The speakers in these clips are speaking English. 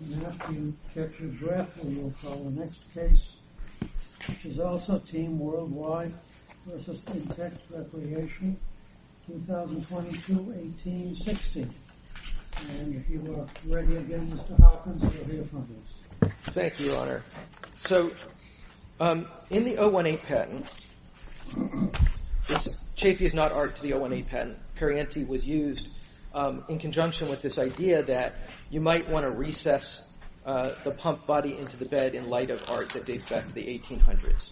And after you catch your breath, we will call the next case, which is also Team Worldwide v. Intex Recreation, 2022-18-16. And if you are ready again, Mr. Hopkins, you'll hear from us. Thank you, Your Honor. So, in the 018 patent, this chafee is not art to the 018 patent. Perrienti was used in conjunction with this idea that you might want to recess the pump body into the bed in light of art that dates back to the 1800s.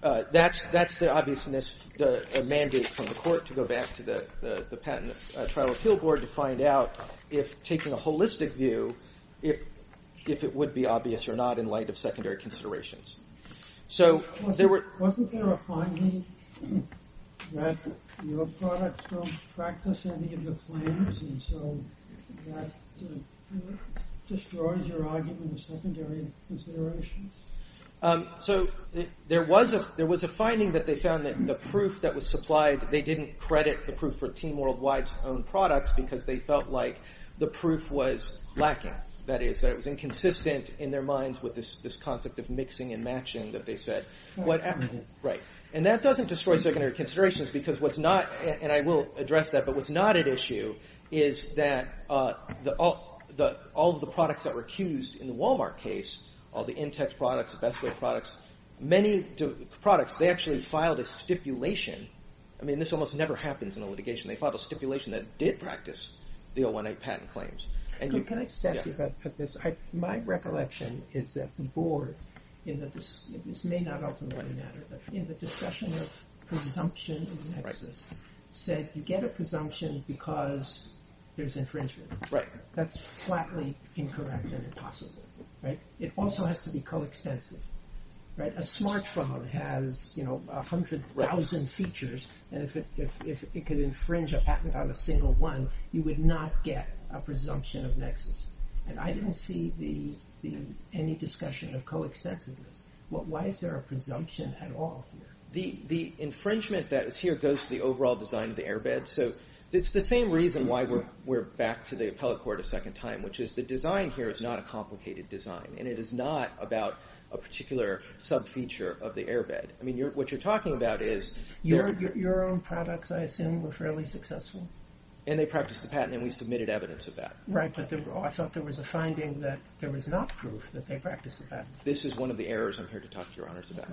That's the obviousness, the mandate from the court to go back to the Patent and Trial Appeal Board to find out, if taking a holistic view, if it would be obvious or not in light of secondary considerations. Wasn't there a finding that your products don't practice any of the claims, and so that destroys your argument of secondary considerations? So, there was a finding that they found that the proof that was supplied, they didn't credit the proof for Team Worldwide's own products because they felt like the proof was lacking. That is, that it was inconsistent in their minds with this concept of mixing and matching that they said. And that doesn't destroy secondary considerations because what's not, and I will address that, but what's not at issue is that all of the products that were accused in the Walmart case, all the Intex products, the Best Way products, many products, they actually filed a stipulation. I mean, this almost never happens in a litigation. They filed a stipulation that did practice the 018 patent claims. Can I just ask you about this? My recollection is that the board, and this may not ultimately matter, but in the discussion of presumption in Texas, said you get a presumption because there's infringement. That's flatly incorrect and impossible. It also has to be coextensive. A smartphone has 100,000 features and if it could infringe a patent on a single one, you would not get a presumption of nexus. And I didn't see any discussion of coextensiveness. Why is there a presumption at all? The infringement that is here goes to the overall design of the airbed. So, it's the same reason why we're back to the appellate court a second time, which is the design here is not a complicated design. And it is not about a particular sub-feature of the airbed. I mean, what you're talking about is... Your own products, I assume, were fairly successful. And they practiced the patent and we submitted evidence of that. Right, but I thought there was a finding that there was not proof that they practiced the patent. This is one of the errors I'm here to talk to your honors about.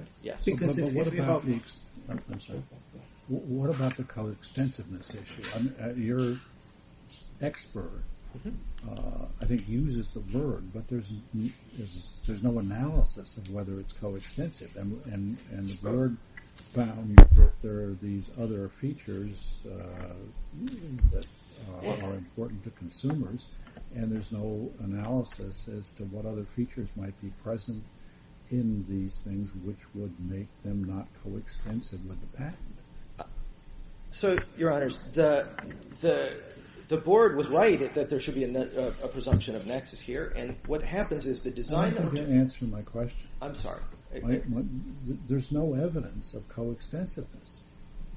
What about the coextensiveness issue? Your expert, I think, uses the word, but there's no analysis of whether it's coextensive. And the word found that there are these other features that are important to consumers. And there's no analysis as to what other features might be present in these things which would make them not coextensive with the patent. So, your honors, the board was right that there should be a presumption of nexus here. And what happens is the design... I can't answer my question. I'm sorry. There's no evidence of coextensiveness.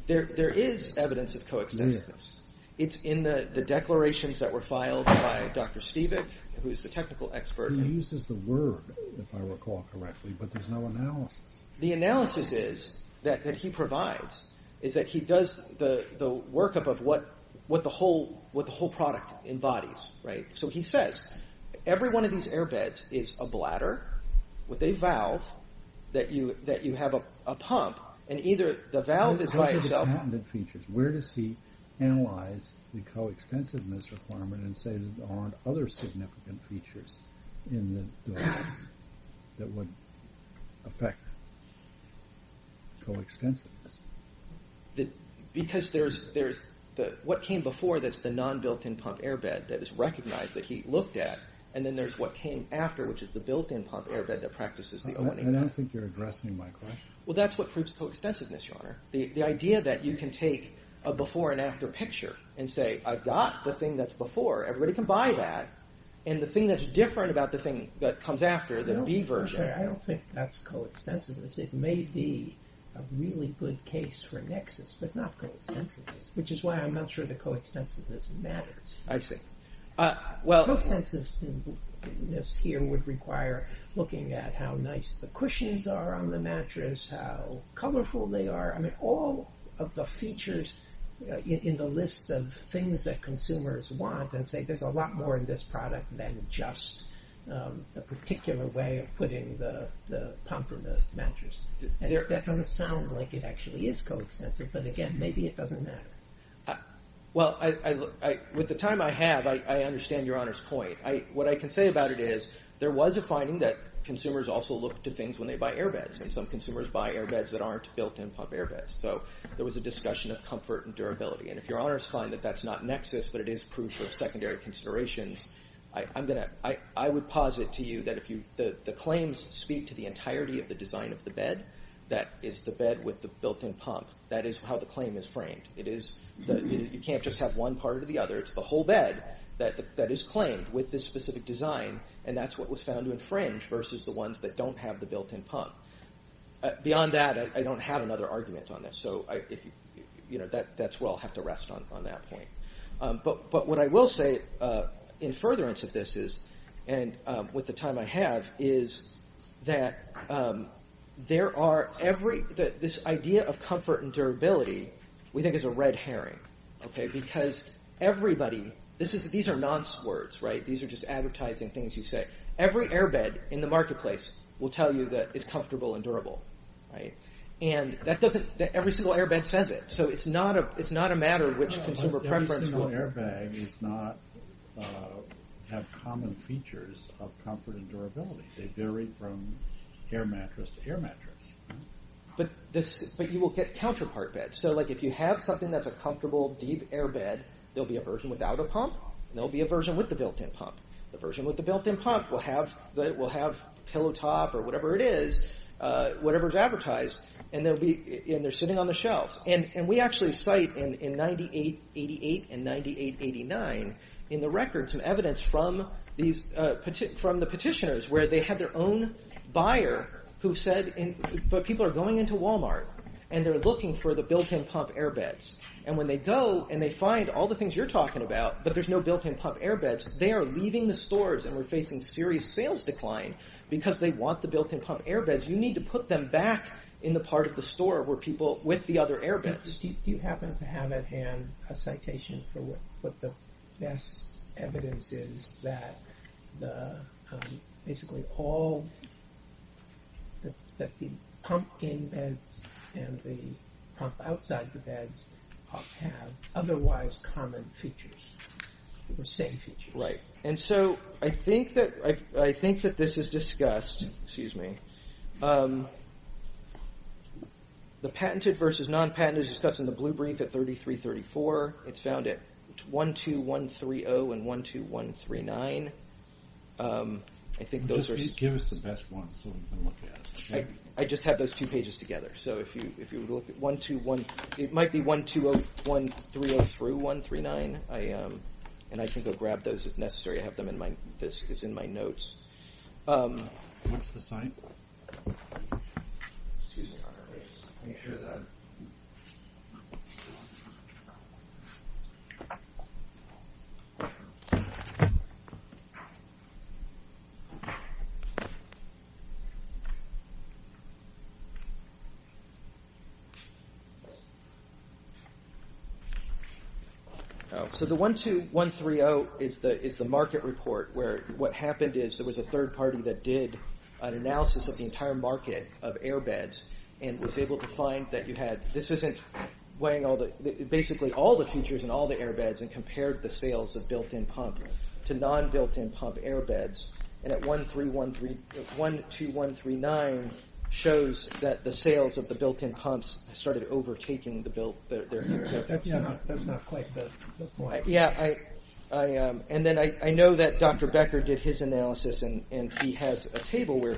There is evidence of coextensiveness. It's in the declarations that were filed by Dr. Stevick, who is the technical expert. He uses the word, if I recall correctly, but there's no analysis. The analysis that he provides is that he does the workup of what the whole product embodies. So, he says every one of these airbeds is a bladder with a valve that you have a pump. Where does he analyze the coextensiveness requirement and say there aren't other significant features in the device that would affect coextensiveness? Because there's what came before that's the non-built-in pump airbed that is recognized that he looked at. And then there's what came after, which is the built-in pump airbed that practices the O&A. I don't think you're addressing my question. Well, that's what proves coextensiveness, Your Honor. The idea that you can take a before and after picture and say I've got the thing that's before. Everybody can buy that. And the thing that's different about the thing that comes after, the B version. I don't think that's coextensiveness. It may be a really good case for nexus, but not coextensiveness, which is why I'm not sure that coextensiveness matters. I see. Coextensiveness here would require looking at how nice the cushions are on the mattress, how colorful they are. All of the features in the list of things that consumers want and say there's a lot more in this product than just a particular way of putting the pump in the mattress. That doesn't sound like it actually is coextensive, but again, maybe it doesn't matter. Well, with the time I have, I understand Your Honor's point. What I can say about it is there was a finding that consumers also look to things when they buy airbeds, and some consumers buy airbeds that aren't built-in pump airbeds. So there was a discussion of comfort and durability. And if Your Honor's find that that's not nexus but it is proof of secondary considerations, I would posit to you that if the claims speak to the entirety of the design of the bed, that is the bed with the built-in pump. That is how the claim is framed. You can't just have one part or the other. It's the whole bed that is claimed with this specific design, and that's what was found to infringe versus the ones that don't have the built-in pump. Beyond that, I don't have another argument on this. So that's where I'll have to rest on that point. But what I will say in furtherance of this is, and with the time I have, is that this idea of comfort and durability, we think is a red herring. Because everybody, these are nonce words, right? These are just advertising things you say. Every airbed in the marketplace will tell you that it's comfortable and durable. And every single airbed says it. So it's not a matter of which consumer preference. Every single airbag does not have common features of comfort and durability. They vary from air mattress to air mattress. But you will get counterpart beds. So if you have something that's a comfortable, deep airbed, there will be a version without a pump, and there will be a version with the built-in pump. The version with the built-in pump will have pillow top or whatever it is, whatever is advertised, and they're sitting on the shelf. And we actually cite in 9888 and 9889 in the record some evidence from the petitioners where they had their own buyer who said people are going into Walmart and they're looking for the built-in pump airbeds. And when they go and they find all the things you're talking about, but there's no built-in pump airbeds, they are leaving the stores and we're facing serious sales decline because they want the built-in pump airbeds. You need to put them back in the part of the store where people with the other airbeds. Do you happen to have at hand a citation for what the best evidence is that basically all the pump in beds and the pump outside the beds have otherwise common features or same features? Right. And so I think that this is discussed. Excuse me. The patented versus non-patent is discussed in the blue brief at 3334. It's found at 12130 and 12139. Just give us the best ones so we can look at it. I just have those two pages together. It might be 12130 through 139 and I can go grab those if necessary. It's in my notes. What's the site? Excuse me. Let me share that. So the 12130 is the market report where what happened is there was a third party that did an analysis of the entire market of airbeds and was able to find that you had basically all the features in all the airbeds and compared the sales of built-in pump to non-built-in pump airbeds. And at 12139 shows that the sales of the built-in pumps started overtaking the built-in airbeds. That's not quite the point. And then I know that Dr. Becker did his analysis and he has a table where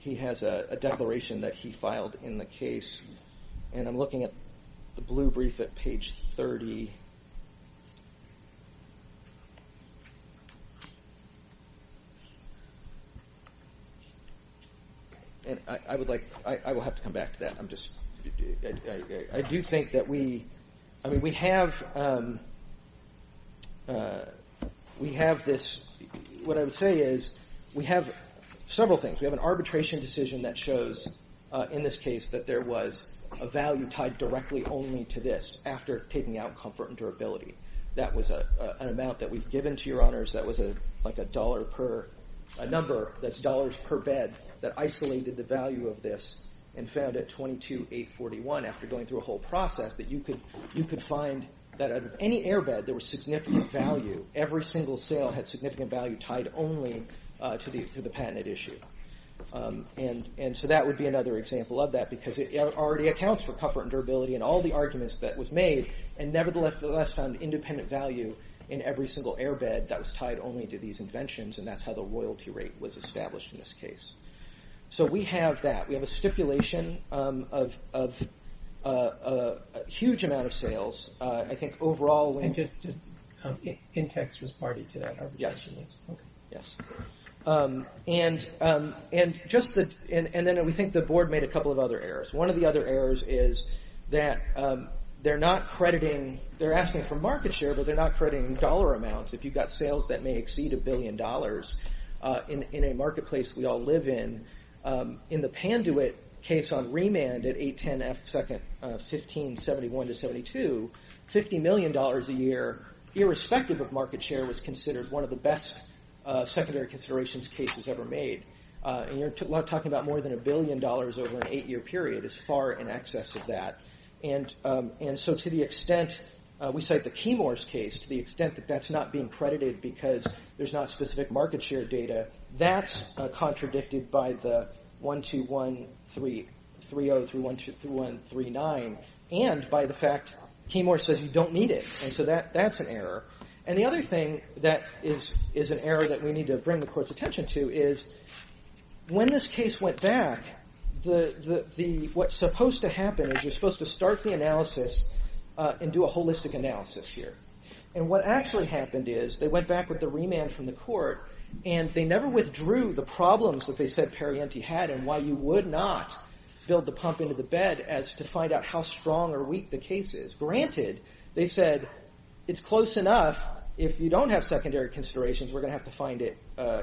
he has a declaration that he filed in the case. And I'm looking at the blue brief at page 30. I will have to come back to that. I do think that we have this. What I would say is we have several things. We have an arbitration decision that shows in this case that there was a value tied directly only to this after taking out comfort and durability. That was an amount that we've given to your honors. That was like a number that's dollars per bed that isolated the value of this and found at 22841 after going through a whole process that you could find that out of any airbed there was significant value. Every single sale had significant value tied only to the patented issue. And so that would be another example of that because it already accounts for comfort and durability and all the arguments that was made. And nevertheless found independent value in every single airbed that was tied only to these inventions. And that's how the royalty rate was established in this case. So we have that. We have a stipulation of a huge amount of sales. I think overall. And just context was party to that. Yes. Yes. And then we think the board made a couple of other errors. One of the other errors is that they're not crediting. They're asking for market share but they're not crediting dollar amounts. If you've got sales that may exceed a billion dollars in a marketplace we all live in. In the Panduit case on remand at 810 F second 1571 to 72. Fifty million dollars a year irrespective of market share was considered one of the best secondary considerations cases ever made. And you're talking about more than a billion dollars over an eight year period is far in excess of that. And so to the extent we cite the Keymore's case to the extent that that's not being credited because there's not specific market share data. That's contradicted by the 121330 through 12139 and by the fact Keymore says you don't need it. And the other thing that is an error that we need to bring the court's attention to is when this case went back. The what's supposed to happen is you're supposed to start the analysis and do a holistic analysis here. And what actually happened is they went back with the remand from the court and they never withdrew the problems that they said Perrienti had and why you would not build the pump into the bed as to find out how strong or weak the case is. Granted they said it's close enough. If you don't have secondary considerations we're going to have to find it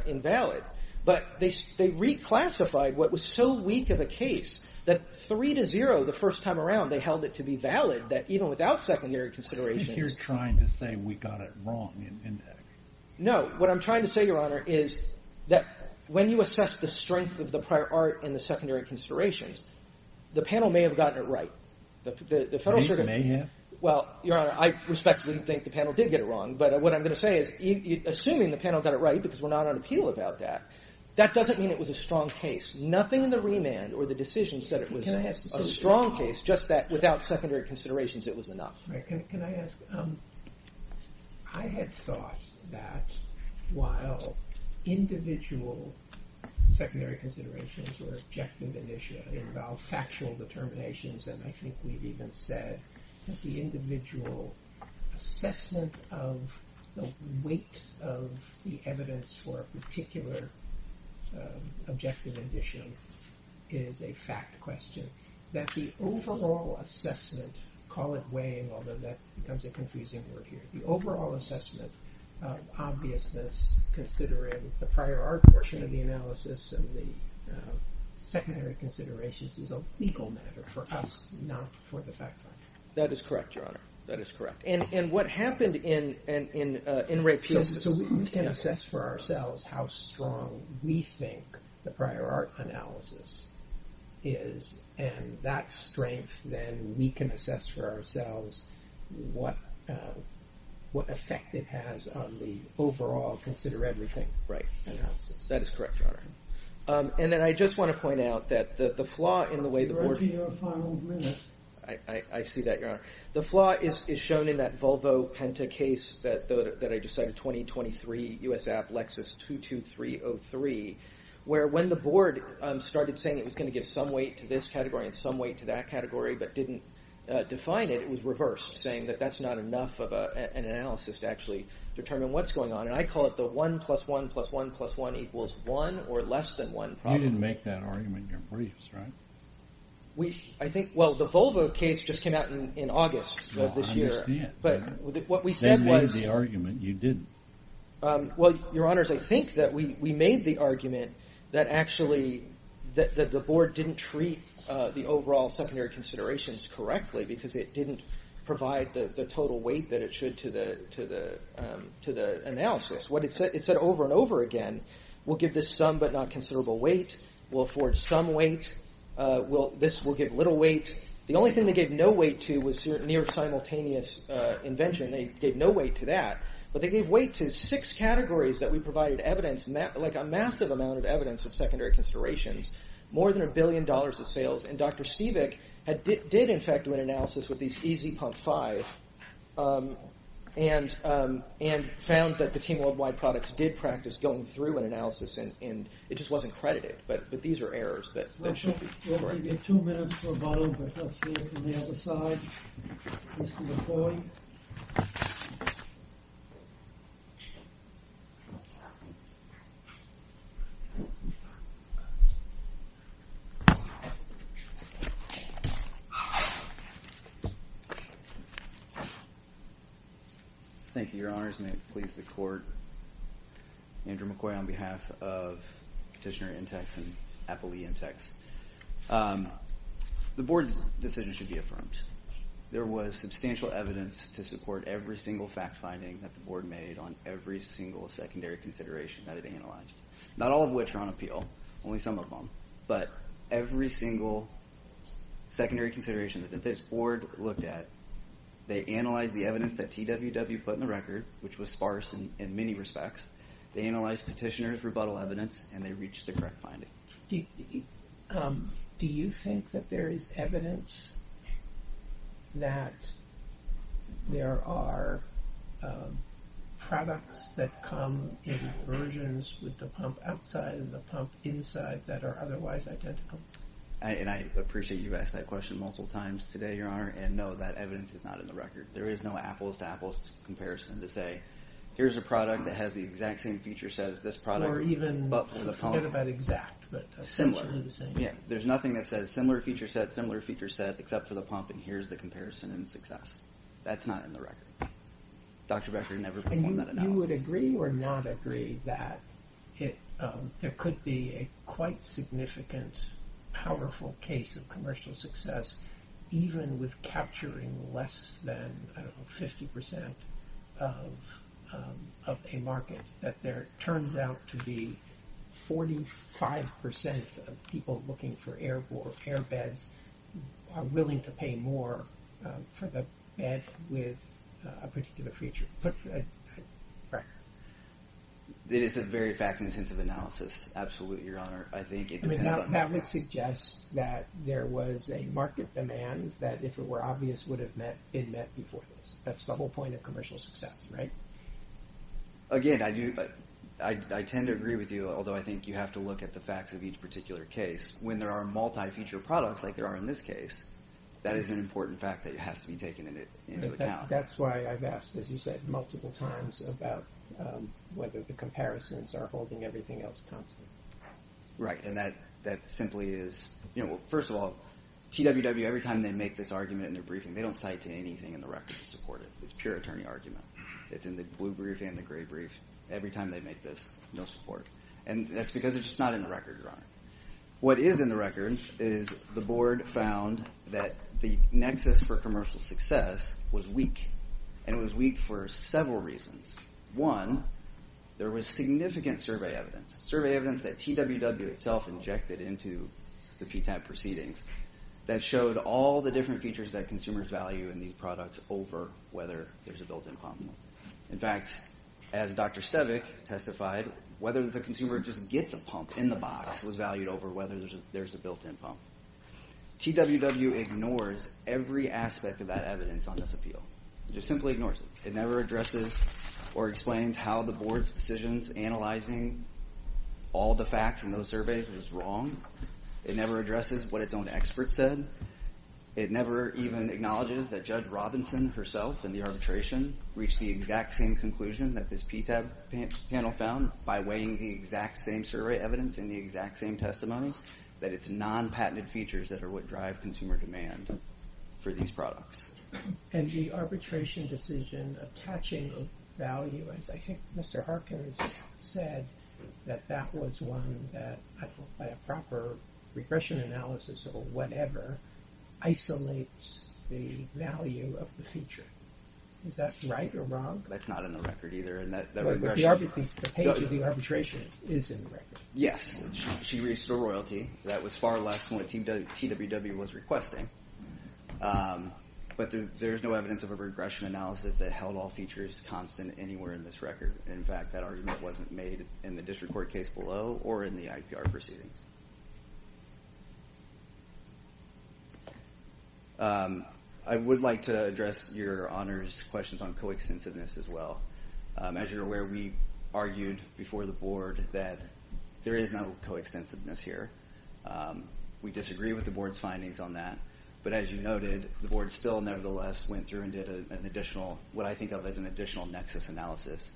invalid. But they reclassified what was so weak of a case that three to zero the first time around they held it to be valid that even without secondary considerations. You're trying to say we got it wrong. No what I'm trying to say Your Honor is that when you assess the strength of the prior art in the secondary considerations the panel may have gotten it right. Well Your Honor I respectfully think the panel did get it wrong. But what I'm going to say is assuming the panel got it right because we're not on appeal about that. That doesn't mean it was a strong case. Nothing in the remand or the decisions said it was a strong case just that without secondary considerations it was enough. Can I ask. I had thought that while individual secondary considerations were objective and issue involved factual determinations. And I think we've even said that the individual assessment of the weight of the evidence for a particular objective and issue is a fact question. That the overall assessment call it weighing although that becomes a confusing word here. The overall assessment of obviousness considering the prior art portion of the analysis and the secondary considerations is a legal matter for us not for the fact finder. That is correct Your Honor. That is correct. And what happened in rape. So we can assess for ourselves how strong we think the prior art analysis is. And that strength then we can assess for ourselves what effect it has on the overall consider everything right analysis. That is correct Your Honor. And then I just want to point out that the flaw in the way the board. I see that Your Honor. The flaw is shown in that Volvo Penta case that I just said 2023 US App Lexus 22303. Where when the board started saying it was going to give some weight to this category and some weight to that category but didn't define it. It was reversed saying that that's not enough of an analysis to actually determine what's going on. And I call it the one plus one plus one plus one equals one or less than one. You didn't make that argument in your briefs right. I think well the Volvo case just came out in August of this year. I understand. But what we said was. They made the argument you didn't. Well Your Honors I think that we made the argument that actually that the board didn't treat the overall secondary considerations correctly because it didn't provide the total weight that it should to the analysis. What it said it said over and over again. We'll give this some but not considerable weight. We'll afford some weight. Well this will give little weight. The only thing they gave no weight to was near simultaneous invention. They gave no weight to that. But they gave weight to six categories that we provided evidence like a massive amount of evidence of secondary considerations. More than a billion dollars of sales. And Dr. Stevick did in fact do an analysis with these easy pump five and found that the team worldwide products did practice going through an analysis and it just wasn't credited. But these are errors. That should be correct. We'll give you two minutes for a vote. But let's hear from the other side. Mr. McCoy. Thank you Your Honors. May it please the court. Andrew McCoy on behalf of Petitioner Intex and Applee Intex. The board's decision should be affirmed. There was substantial evidence to support every single fact finding that the board made on every single secondary consideration that it analyzed. Not all of which are on appeal. Only some of them. But every single secondary consideration that this board looked at, they analyzed the evidence that TWW put in the record, which was sparse in many respects. They analyzed Petitioner's rebuttal evidence and they reached the correct finding. Do you think that there is evidence that there are products that come in versions with the pump outside and the pump inside that are otherwise identical? And I appreciate you asking that question multiple times today, Your Honor. And no, that evidence is not in the record. There is no apples to apples comparison to say, here's a product that has the exact same feature set as this product. Or even, forget about exact, but similar. There's nothing that says similar feature set, similar feature set, except for the pump and here's the comparison in success. That's not in the record. Dr. Becker never performed that analysis. Do you agree or not agree that there could be a quite significant, powerful case of commercial success, even with capturing less than 50% of a market? That there turns out to be 45% of people looking for air beds are willing to pay more for the bed with a particular feature. It is a very fact-intensive analysis. Absolutely, Your Honor. That would suggest that there was a market demand that, if it were obvious, would have been met before this. That's the whole point of commercial success, right? Again, I tend to agree with you, although I think you have to look at the facts of each particular case. When there are multi-feature products, like there are in this case, that is an important fact that has to be taken into account. That's why I've asked, as you said, multiple times about whether the comparisons are holding everything else constant. Right. And that simply is, first of all, TWW, every time they make this argument in their briefing, they don't cite to anything in the record to support it. It's pure attorney argument. It's in the blue brief and the gray brief. Every time they make this, no support. And that's because it's just not in the record, Your Honor. What is in the record is the board found that the nexus for commercial success was weak, and it was weak for several reasons. One, there was significant survey evidence, survey evidence that TWW itself injected into the PTAP proceedings, that showed all the different features that consumers value in these products over whether there's a built-in pump. In fact, as Dr. Stevick testified, whether the consumer just gets a pump in the box was valued over whether there's a built-in pump. TWW ignores every aspect of that evidence on this appeal. It just simply ignores it. It never addresses or explains how the board's decisions analyzing all the facts in those surveys was wrong. It never addresses what its own experts said. It never even acknowledges that Judge Robinson herself in the arbitration reached the exact same conclusion that this PTAP panel found by weighing the exact same survey evidence and the exact same testimony, that it's non-patented features that are what drive consumer demand for these products. And the arbitration decision attaching value, as I think Mr. Harkin has said, that that was one that by a proper regression analysis or whatever, isolates the value of the feature. Is that right or wrong? That's not in the record either. But the page of the arbitration is in the record. Yes, she reached the royalty. That was far less than what TWW was requesting. But there's no evidence of a regression analysis that held all features constant anywhere in this record. In fact, that argument wasn't made in the district court case below or in the IPR proceedings. I would like to address your honors questions on coextensiveness as well. As you're aware, we argued before the board that there is no coextensiveness here. We disagree with the board's findings on that. But as you noted, the board still nevertheless went through and did an additional, what I think of as an additional nexus analysis.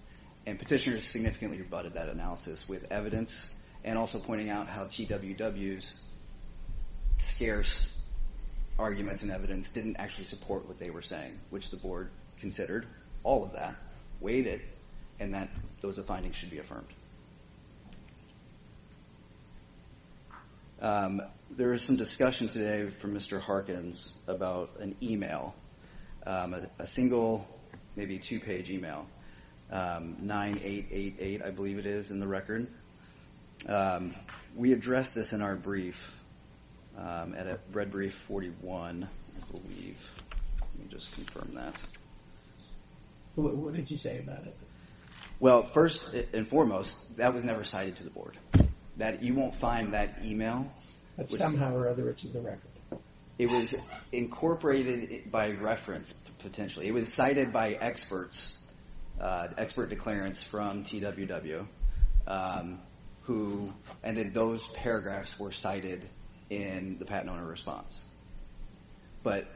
And petitioners significantly rebutted that analysis with evidence and also pointing out how TWW's scarce arguments and evidence didn't actually support what they were saying, which the board considered all of that, weighed it, and that those findings should be affirmed. There is some discussion today from Mr. Harkins about an e-mail, a single maybe two-page e-mail, 9888, I believe it is, in the record. We addressed this in our brief at a red brief 41, I believe. Let me just confirm that. What did you say about it? Well, first and foremost, that was never cited to the board. You won't find that e-mail. But somehow or other, it's in the record. It was incorporated by reference, potentially. It was cited by experts, expert declarants from TWW, and those paragraphs were cited in the patent owner response. But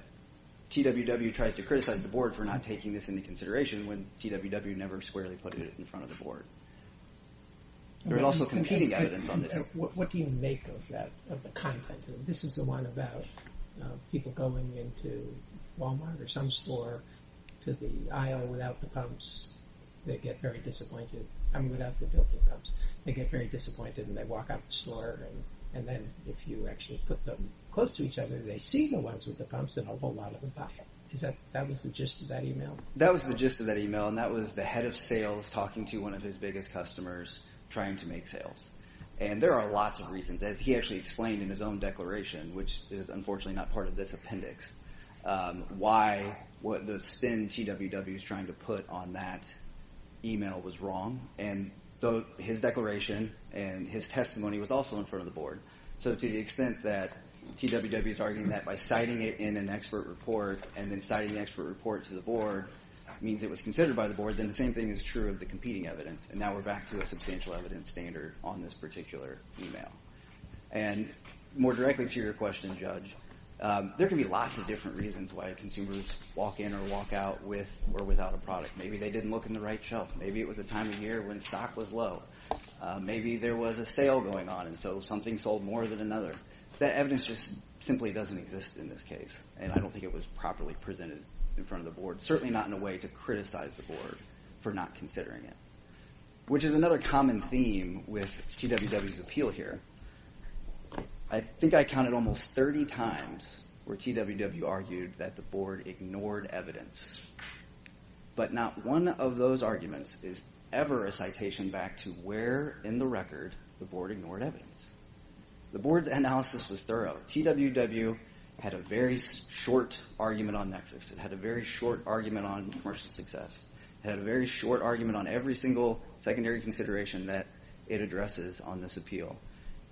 TWW tried to criticize the board for not taking this into consideration when TWW never squarely put it in front of the board. There was also competing evidence on this. What do you make of that, of the content? This is the one about people going into Walmart or some store to the aisle without the pumps. They get very disappointed. I mean, without the built-in pumps. They get very disappointed, and they walk out the store. And then if you actually put them close to each other, they see the ones with the pumps, and a whole lot of them buy. That was the gist of that e-mail? That was the gist of that e-mail, and that was the head of sales talking to one of his biggest customers, trying to make sales. And there are lots of reasons. As he actually explained in his own declaration, which is unfortunately not part of this appendix, why the spin TWW is trying to put on that e-mail was wrong. And his declaration and his testimony was also in front of the board. So to the extent that TWW is arguing that by citing it in an expert report and then citing the expert report to the board means it was considered by the board, then the same thing is true of the competing evidence. And now we're back to a substantial evidence standard on this particular e-mail. And more directly to your question, Judge, there can be lots of different reasons why consumers walk in or walk out with or without a product. Maybe they didn't look in the right shelf. Maybe it was a time of year when stock was low. Maybe there was a sale going on, and so something sold more than another. That evidence just simply doesn't exist in this case, and I don't think it was properly presented in front of the board, certainly not in a way to criticize the board for not considering it, which is another common theme with TWW's appeal here. I think I counted almost 30 times where TWW argued that the board ignored evidence. But not one of those arguments is ever a citation back to where in the record the board ignored evidence. The board's analysis was thorough. TWW had a very short argument on nexus. It had a very short argument on commercial success. It had a very short argument on every single secondary consideration that it addresses on this appeal.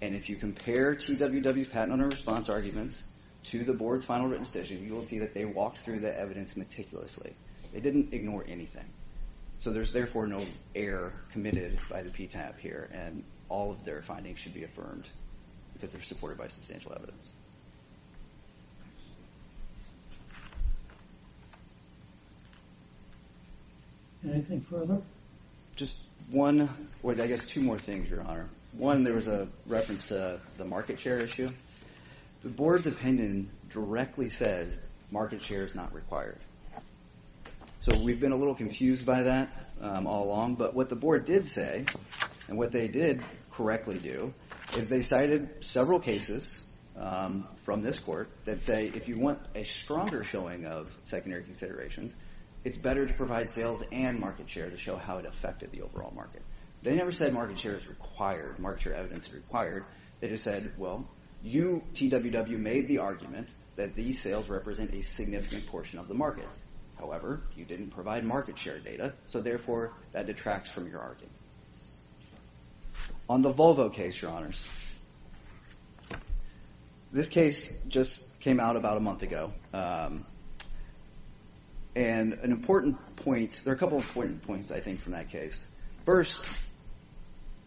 And if you compare TWW's patent owner response arguments to the board's final written decision, you will see that they walked through the evidence meticulously. They didn't ignore anything. So there's therefore no error committed by the PTAP here, and all of their findings should be affirmed because they're supported by substantial evidence. Anything further? Just one, or I guess two more things, Your Honor. One, there was a reference to the market share issue. The board's opinion directly says market share is not required. So we've been a little confused by that all along, but what the board did say and what they did correctly do is they cited several cases from this court that say if you want a stronger showing of secondary considerations, it's better to provide sales and market share to show how it affected the overall market. They never said market share is required, market share evidence is required. They just said, well, you, TWW, made the argument that these sales represent a significant portion of the market. However, you didn't provide market share data, so therefore that detracts from your argument. On the Volvo case, Your Honors, this case just came out about a month ago. And an important point, there are a couple of important points, I think, from that case. First,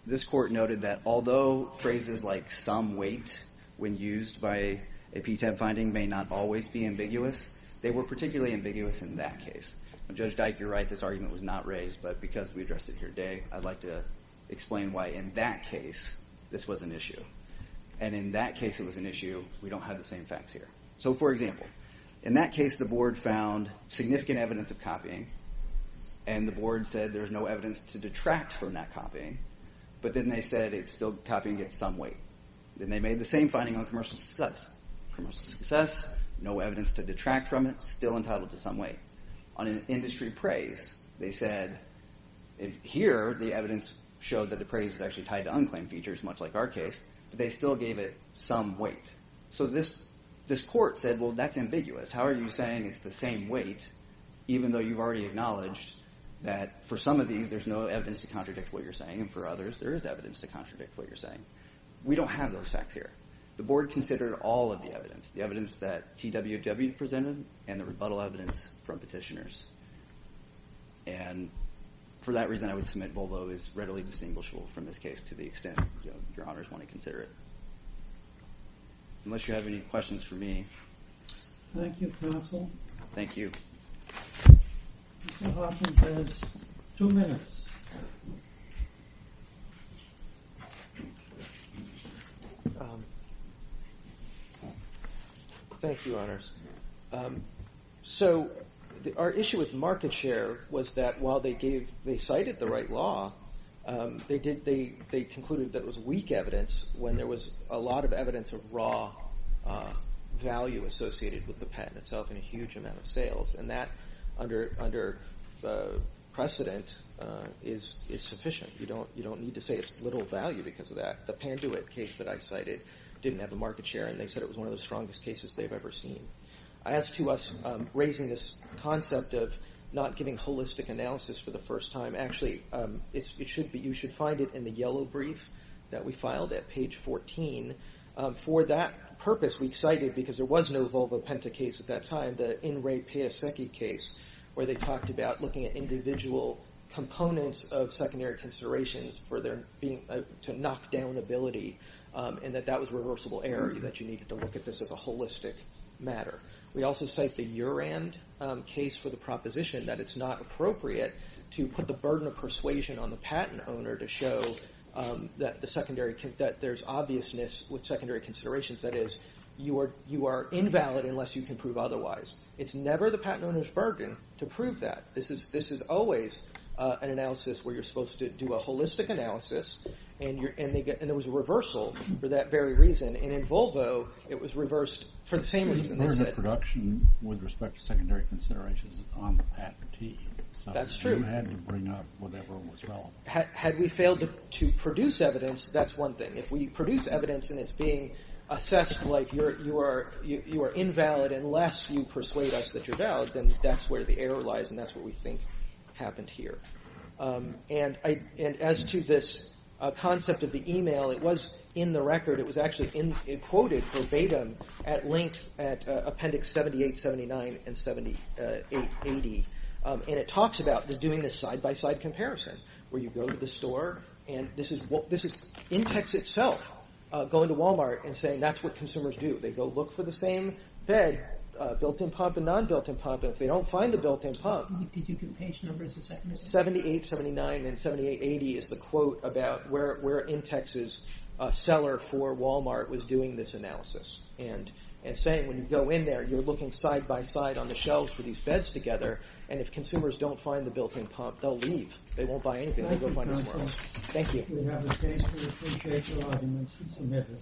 this court noted that although phrases like some weight when used by a P-TEB finding may not always be ambiguous, they were particularly ambiguous in that case. Judge Dyke, you're right, this argument was not raised, but because we addressed it here today, I'd like to explain why in that case this was an issue. And in that case it was an issue, we don't have the same facts here. So, for example, in that case the board found significant evidence of copying, and the board said there's no evidence to detract from that copying, but then they said it's still copying at some weight. Then they made the same finding on commercial success. Commercial success, no evidence to detract from it, still entitled to some weight. On an industry praise, they said, here the evidence showed that the praise is actually tied to unclaimed features, much like our case, but they still gave it some weight. So this court said, well, that's ambiguous. How are you saying it's the same weight, even though you've already acknowledged that for some of these there's no evidence to contradict what you're saying, and for others there is evidence to contradict what you're saying. We don't have those facts here. The board considered all of the evidence, the evidence that TWW presented and the rebuttal evidence from petitioners. And for that reason I would submit Volvo is readily distinguishable from this case to the extent your honors want to consider it. Unless you have any questions for me. Thank you, counsel. Thank you. Mr. Hoffman has two minutes. Thank you, honors. So our issue with market share was that while they cited the right law, they concluded that it was weak evidence when there was a lot of evidence of raw value associated with the patent itself and a huge amount of sales, and that under precedent is sufficient. You don't need to say it's little value because of that. The Panduit case that I cited didn't have a market share, and they said it was one of the strongest cases they've ever seen. As to us raising this concept of not giving holistic analysis for the first time, actually you should find it in the yellow brief that we filed at page 14. For that purpose we cited, because there was no Volvo Penta case at that time, the In Re Pia Secchi case where they talked about looking at individual components of secondary considerations to knock down ability, and that that was reversible error, that you needed to look at this as a holistic matter. We also cite the Urand case for the proposition that it's not appropriate to put the burden of persuasion on the patent owner to show that there's obviousness with secondary considerations. That is, you are invalid unless you can prove otherwise. It's never the patent owner's burden to prove that. This is always an analysis where you're supposed to do a holistic analysis, and there was a reversal for that very reason, and in Volvo it was reversed for the same reason. The burden of production with respect to secondary considerations is on the patentee. That's true. So you had to bring up whatever was relevant. Had we failed to produce evidence, that's one thing. If we produce evidence and it's being assessed like you are invalid unless you persuade us that you're valid, then that's where the error lies, and that's what we think happened here. As to this concept of the email, it was in the record. It was actually quoted verbatim at length at Appendix 78, 79, and 78, 80, and it talks about doing a side-by-side comparison where you go to the store, and this is Intex itself going to Walmart and saying that's what consumers do. They go look for the same bed, built-in pump and non-built-in pump, and if they don't find the built-in pump... Appendix 78, 79, and 78, 80 is the quote about where Intex's seller for Walmart was doing this analysis and saying when you go in there, you're looking side-by-side on the shelves for these beds together, and if consumers don't find the built-in pump, they'll leave. They won't buy anything. They'll go find it somewhere else. Thank you.